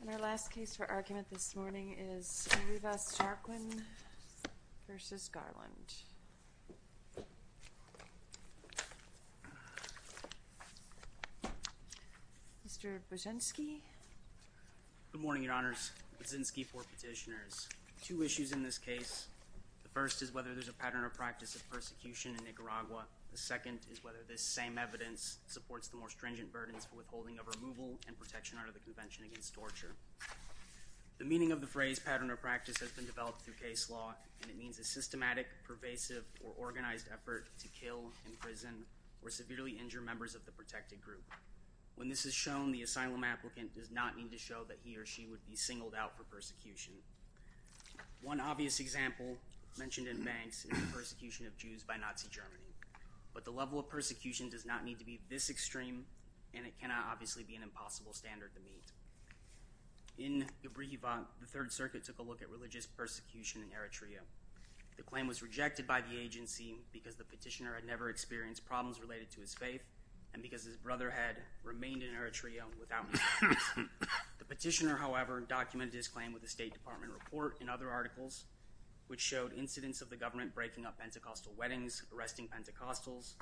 And our last case for argument this morning is Rivas-Jarquin v. Garland. Mr. Buczynski. Good morning, Your Honors. Buczynski for Petitioners. Two issues in this case. The first is whether there's a pattern or practice of persecution in Nicaragua. The second is whether this same evidence supports the more stringent burdens for withholding of removal and protection under the Convention Against Torture. The meaning of the phrase pattern or practice has been developed through case law, and it means a systematic, pervasive, or organized effort to kill, imprison, or severely injure members of the protected group. When this is shown, the asylum applicant does not need to show that he or she would be singled out for persecution. One obvious example mentioned in Banks is the persecution of Jews by Nazi Germany. But the level of persecution does not need to be this extreme, and it cannot obviously be an impossible standard to meet. In Ibrijivan, the Third Circuit took a look at religious persecution in Eritrea. The claim was rejected by the agency because the petitioner had never experienced problems related to his faith and because his brother had remained in Eritrea without his parents. The petitioner, however, documented his claim with a State Department report and other articles, which showed incidents of the government breaking up Pentecostal weddings, arresting Pentecostals,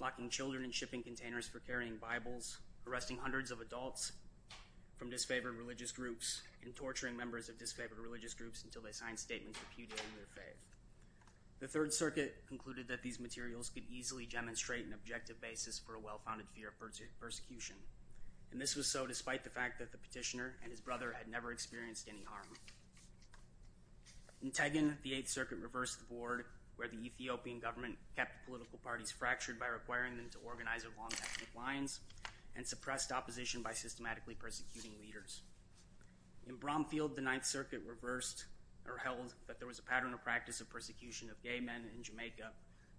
locking children in shipping containers for carrying Bibles, arresting hundreds of adults from disfavored religious groups, and torturing members of disfavored religious groups until they signed statements repudiating their faith. The Third Circuit concluded that these materials could easily demonstrate an objective basis for a well-founded fear of persecution. And this was so despite the fact that the petitioner and his brother had never experienced any harm. In Tegin, the Eighth Circuit reversed the board where the Ethiopian government kept political parties fractured by requiring them to organize along ethnic lines and suppressed opposition by systematically persecuting leaders. In Bromfield, the Ninth Circuit reversed or held that there was a pattern of practice of persecution of gay men in Jamaica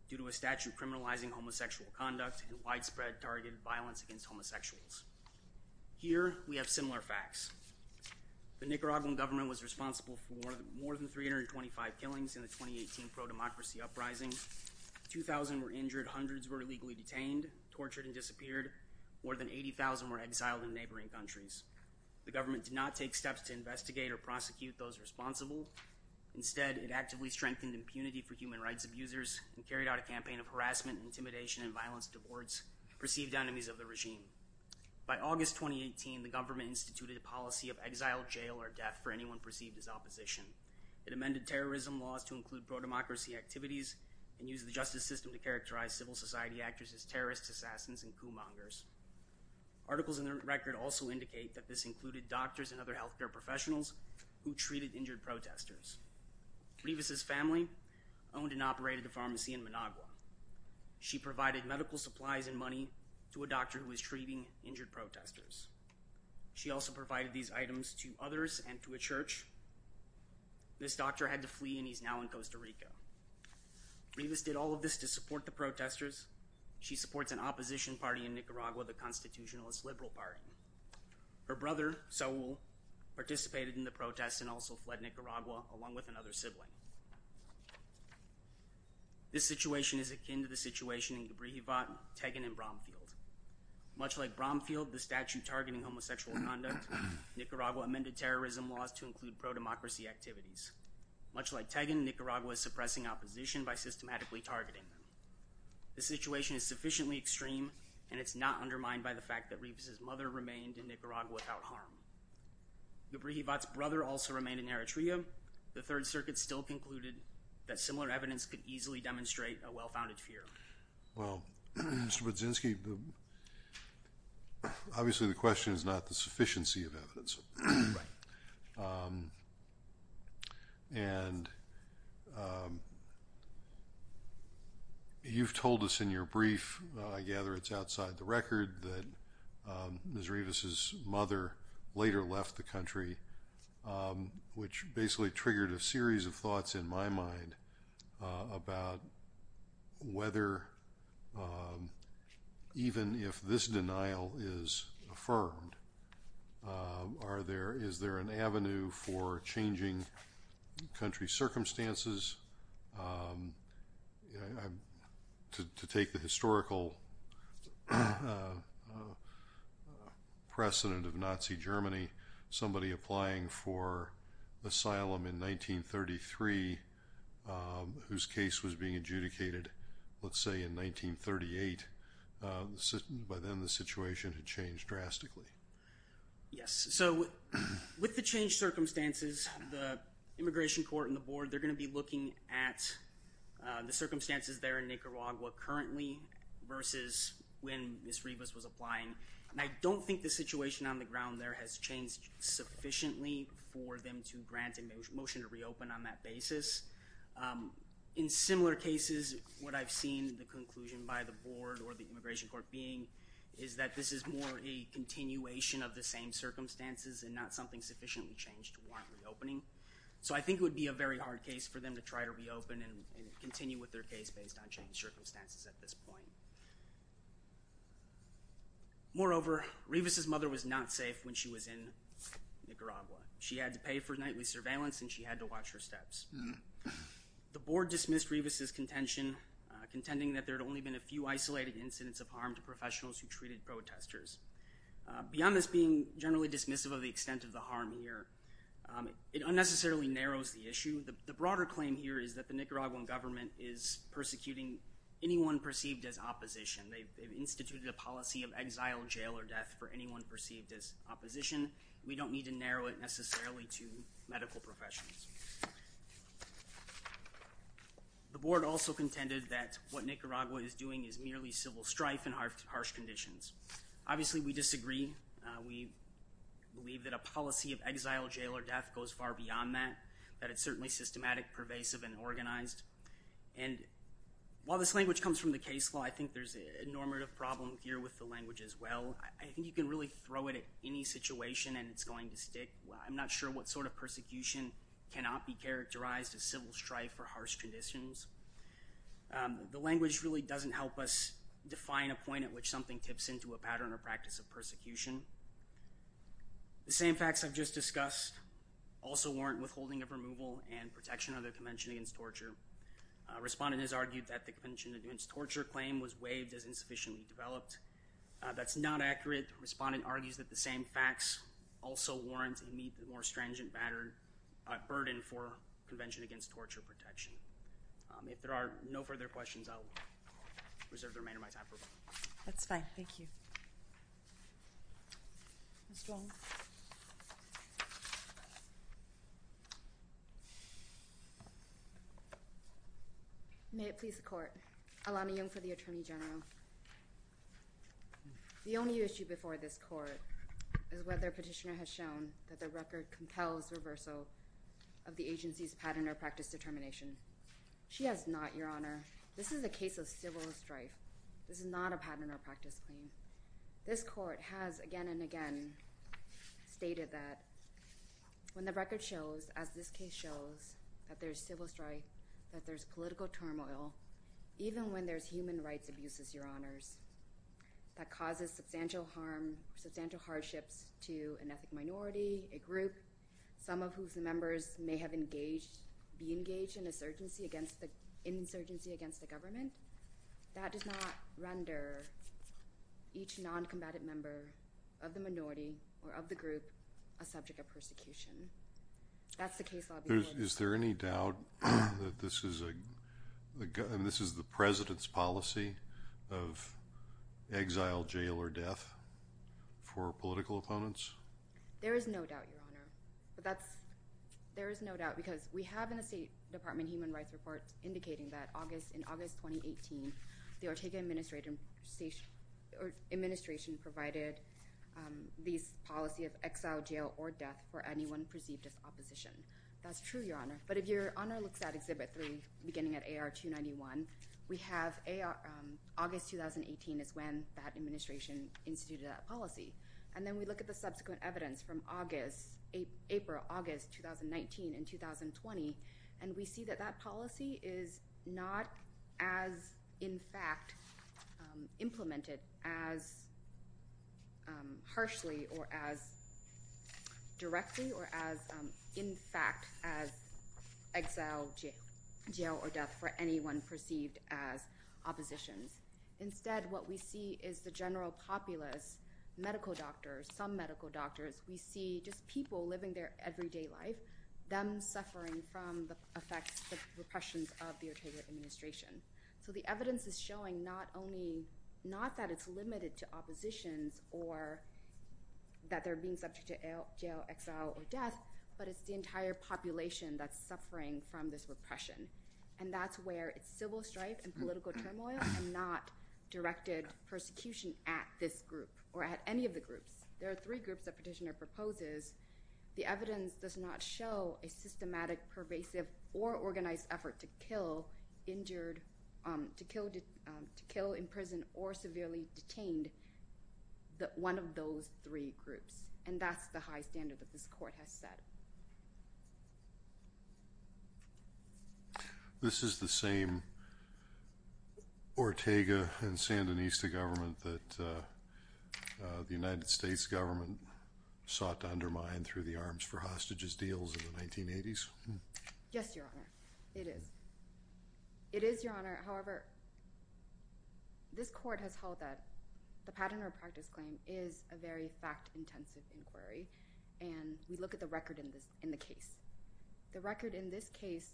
due to a statute criminalizing homosexual conduct and widespread targeted violence against homosexuals. Here we have similar facts. The Nicaraguan government was responsible for more than 325 killings in the 2018 pro-democracy uprising. 2,000 were injured, hundreds were illegally detained, tortured, and disappeared. More than 80,000 were exiled in neighboring countries. The government did not take steps to investigate or prosecute those responsible. Instead, it actively strengthened impunity for human rights abusers and carried out a campaign of harassment, intimidation, and violence towards perceived enemies of the regime. By August 2018, the government instituted a policy of exile, jail, or death for anyone perceived as opposition. It amended terrorism laws to include pro-democracy activities and used the justice system to characterize civil society actors as terrorists, assassins, and coup mongers. Articles in the record also indicate that this included doctors and other health care professionals who treated injured protesters. Rivas' family owned and operated a pharmacy in Managua. She provided medical supplies and money to a doctor who was treating injured protesters. She also provided these items to others and to a church. This doctor had to flee and he's now in Costa Rica. Rivas did all of this to support the protesters. She supports an opposition party in Nicaragua, the Constitutionalist Liberal Party. Her brother, Saul, participated in the protests and also fled Nicaragua along with another sibling. This situation is akin to the situation in Cabrillo, Tegan, and Bromfield. Much like Bromfield, the statute targeting homosexual conduct, Nicaragua amended terrorism laws to include pro-democracy activities. Much like Tegan, Nicaragua is suppressing opposition by systematically targeting them. The situation is sufficiently extreme and it's not undermined by the fact that Rivas' mother remained in Nicaragua without harm. Yubrijivat's brother also remained in Eritrea. The Third Circuit still concluded that similar evidence could easily demonstrate a well-founded fear. Well, Mr. Budzinski, obviously the question is not the sufficiency of evidence. Right. And you've told us in your brief, I gather it's outside the record, that Ms. Rivas' mother later left the country, which basically triggered a series of thoughts in my mind about whether even if this denial is affirmed, is there an avenue for changing country circumstances? To take the historical precedent of Nazi Germany, somebody applying for asylum in 1933, whose case was being adjudicated, let's say in 1938, by then the situation had changed drastically. Yes. So with the changed circumstances, the Immigration Court and the Board, they're going to be looking at the circumstances there in Nicaragua currently versus when Ms. Rivas was applying. And I don't think the situation on the ground there has changed sufficiently for them to grant a motion to reopen on that basis. In similar cases, what I've seen, the conclusion by the Board or the Immigration Court being, is that this is more a continuation of the same circumstances and not something sufficiently changed to warrant reopening. So I think it would be a very hard case for them to try to reopen and continue with their case based on changed circumstances at this point. Moreover, Rivas' mother was not safe when she was in Nicaragua. She had to pay for nightly surveillance and she had to watch her steps. The Board dismissed Rivas' contention, contending that there had only been a few isolated incidents of harm to professionals who treated protesters. Beyond this being generally dismissive of the extent of the harm here, it unnecessarily narrows the issue. The broader claim here is that the Nicaraguan government is persecuting anyone perceived as opposition. They've instituted a policy of exile, jail, or death for anyone perceived as opposition. We don't need to narrow it necessarily to medical professionals. The Board also contended that what Nicaragua is doing is merely civil strife and harsh conditions. Obviously, we disagree. We believe that a policy of exile, jail, or death goes far beyond that. That it's certainly systematic, pervasive, and organized. And while this language comes from the case law, I think there's a normative problem here with the language as well. I think you can really throw it at any situation and it's going to stick. I'm not sure what sort of persecution cannot be characterized as civil strife or harsh conditions. The language really doesn't help us define a point at which something tips into a pattern or practice of persecution. The same facts I've just discussed also warrant withholding of removal and protection of the Convention Against Torture. Respondent has argued that the Convention Against Torture claim was waived as insufficiently developed. That's not accurate. Respondent argues that the same facts also warrant and meet the more stringent burden for Convention Against Torture protection. If there are no further questions, I'll reserve the remainder of my time for voting. That's fine. Thank you. May it please the Court. Alana Young for the Attorney General. The only issue before this Court is whether Petitioner has shown that the record compels reversal of the agency's pattern or practice determination. She has not, Your Honor. This is a case of civil strife. This is not a pattern or practice claim. This Court has again and again stated that when the record shows, as this case shows, that there's civil strife, that there's political turmoil, even when there's human rights abuses, Your Honors, that causes substantial harm, substantial hardships to an ethnic minority, a group, some of whose members may have engaged, be engaged in insurgency against the government, that does not render each noncombatant member of the minority or of the group a subject of persecution. That's the case I'll be making. Is there any doubt that this is the President's policy of exile, jail, or death for political opponents? There is no doubt, Your Honor. There is no doubt because we have in the State Department human rights reports indicating that in August 2018, the Ortega administration provided this policy of exile, jail, or death for anyone perceived as opposition. That's true, Your Honor. But if Your Honor looks at Exhibit 3, beginning at AR 291, we have August 2018 is when that administration instituted that policy. And then we look at the subsequent evidence from August, April, August 2019 and 2020, and we see that that policy is not as, in fact, implemented as harshly or as directly or as, in fact, as exile, jail, or death for anyone perceived as opposition. Instead, what we see is the general populace, medical doctors, some medical doctors. We see just people living their everyday life, them suffering from the effects of repressions of the Ortega administration. So the evidence is showing not only—not that it's limited to oppositions or that they're being subject to jail, exile, or death, but it's the entire population that's suffering from this repression. And that's where it's civil strife and political turmoil and not directed persecution at this group or at any of the groups. There are three groups that Petitioner proposes. The evidence does not show a systematic, pervasive, or organized effort to kill in prison or severely detained one of those three groups. And that's the high standard that this court has set. This is the same Ortega and Sandinista government that the United States government sought to undermine through the arms for hostages deals in the 1980s? Yes, Your Honor. It is. It is, Your Honor. However, this court has held that the pattern or practice claim is a very fact-intensive inquiry, and we look at the record in the case. The record in this case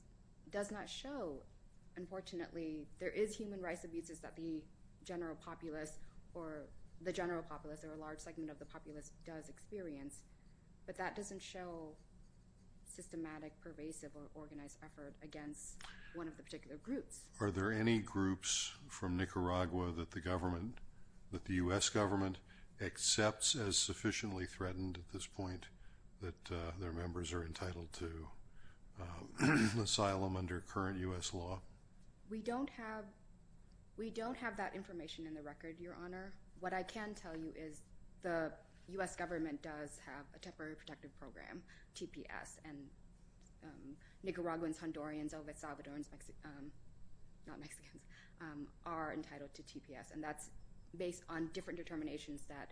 does not show—unfortunately, there is human rights abuses that the general populace or a large segment of the populace does experience, but that doesn't show systematic, pervasive, or organized effort against one of the particular groups. Are there any groups from Nicaragua that the U.S. government accepts as sufficiently threatened at this point that their members are entitled to asylum under current U.S. law? We don't have that information in the record, Your Honor. What I can tell you is the U.S. government does have a Temporary Protective Program, TPS, and Nicaraguans, Hondurans, El Salvadorans, Mexicans—not Mexicans—are entitled to TPS, and that's based on different determinations that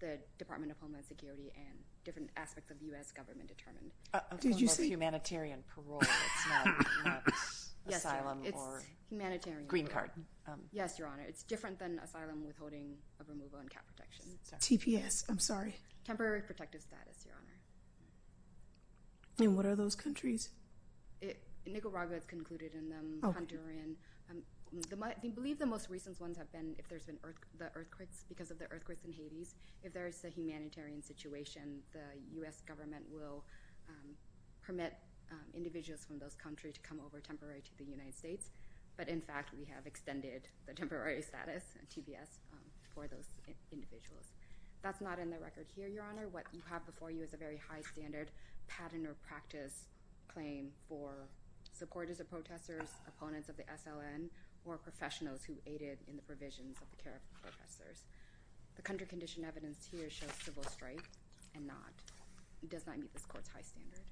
the Department of Homeland Security and different aspects of U.S. government determined. Did you say— Humanitarian parole. It's not asylum or— Yes, Your Honor. It's humanitarian. Green card. Yes, Your Honor. It's different than asylum withholding of removal and cap protection. TPS. I'm sorry. Temporary protective status, Your Honor. And what are those countries? Nicaragua is concluded in them, Honduran. They believe the most recent ones have been if there's been the earthquakes because of the earthquakes in Hades. If there's a humanitarian situation, the U.S. government will permit individuals from those countries to come over temporarily to the United States, but, in fact, we have extended the temporary status, TPS, for those individuals. That's not in the record here, Your Honor. What you have before you is a very high-standard pattern or practice claim for supporters of protesters, opponents of the SLN, or professionals who aided in the provisions of the care of the protesters. The country condition evidenced here shows civil strife and does not meet this court's high standard.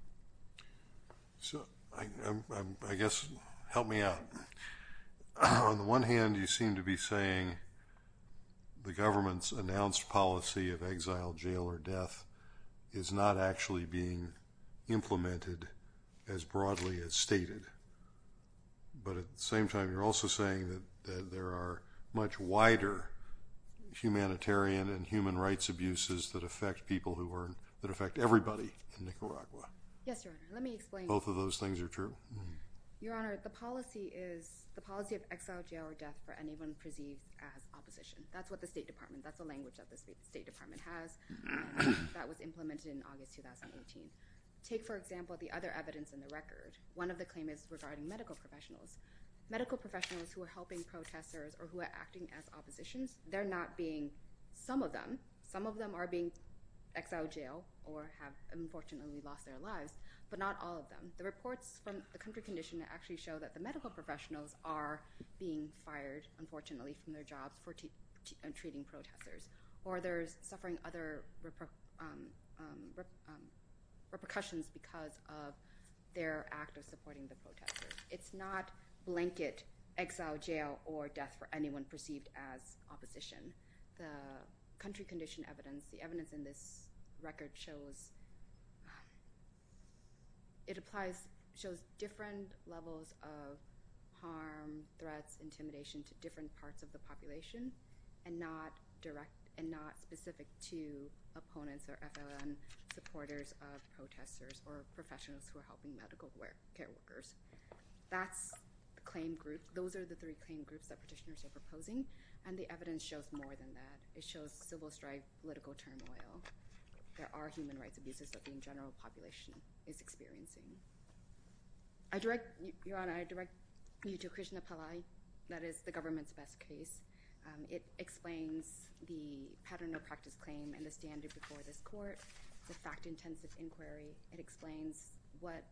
So, I guess, help me out. On the one hand, you seem to be saying the government's announced policy of exile, jail, or death is not actually being implemented as broadly as stated, but, at the same time, you're also saying that there are much wider humanitarian and human rights abuses that affect everybody in Nicaragua. Yes, Your Honor. Let me explain. Both of those things are true. Your Honor, the policy of exile, jail, or death for anyone perceived as opposition, that's what the State Department, that's the language that the State Department has, and that was implemented in August 2018. Take, for example, the other evidence in the record. One of the claims is regarding medical professionals. Medical professionals who are helping protesters or who are acting as oppositions, they're not being, some of them, some of them are being exiled, jailed, or have unfortunately lost their lives, but not all of them. The reports from the country condition actually show that the medical professionals are being fired, unfortunately, from their jobs for treating protesters, or they're suffering other repercussions because of their act of supporting the protesters. It's not blanket exile, jail, or death for anyone perceived as opposition. The country condition evidence, the evidence in this record shows, it applies, shows different levels of harm, threats, intimidation to different parts of the population, and not direct, and not specific to opponents or FLN supporters of protesters or professionals who are helping medical care workers. That's the claim group. Those are the three claim groups that petitioners are proposing, and the evidence shows more than that. It shows civil strife, political turmoil. There are human rights abuses that the general population is experiencing. I direct, Your Honor, I direct you to Krishna Pillai. That is the government's best case. It explains the pattern of practice claim and the standard before this court, the fact-intensive inquiry. It explains what,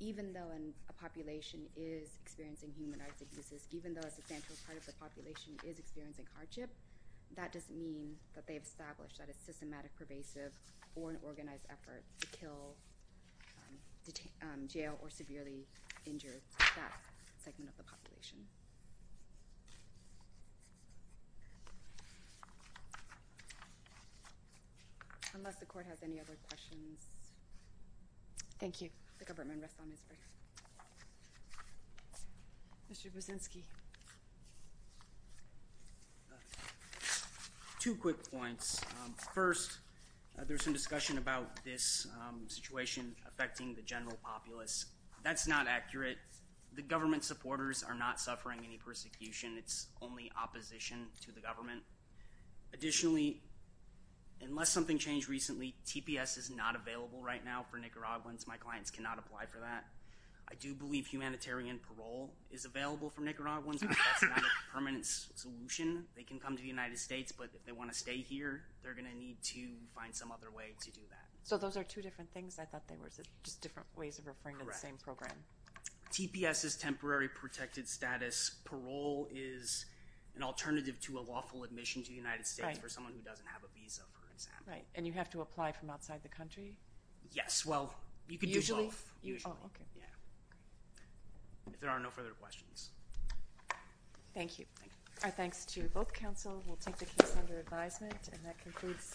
even though a population is experiencing human rights abuses, even though a substantial part of the population is experiencing hardship, that doesn't mean that they've established that it's systematic, pervasive, or an organized effort to kill, jail, or severely injure that segment of the population. Thank you. Unless the court has any other questions. Thank you. The government rests on its breath. Mr. Brzezinski. Two quick points. First, there's some discussion about this situation affecting the general populace. That's not accurate. The government supporters are not suffering any persecution. It's only opposition to the government. Additionally, unless something changed recently, TPS is not available right now for Nicaraguans. My clients cannot apply for that. I do believe humanitarian parole is available for Nicaraguans. That's not a permanent solution. They can come to the United States, but if they want to stay here, they're going to need to find some other way to do that. So those are two different things? I thought they were just different ways of referring to the same program. TPS is temporary protected status. Parole is an alternative to a lawful admission to the United States for someone who doesn't have a visa, for example. Right. And you have to apply from outside the country? Yes. Well, you could do both. Usually. Oh, okay. Yeah. If there are no further questions. Thank you. Thank you. Our thanks to both counsel. We'll take the case under advisement, and that concludes.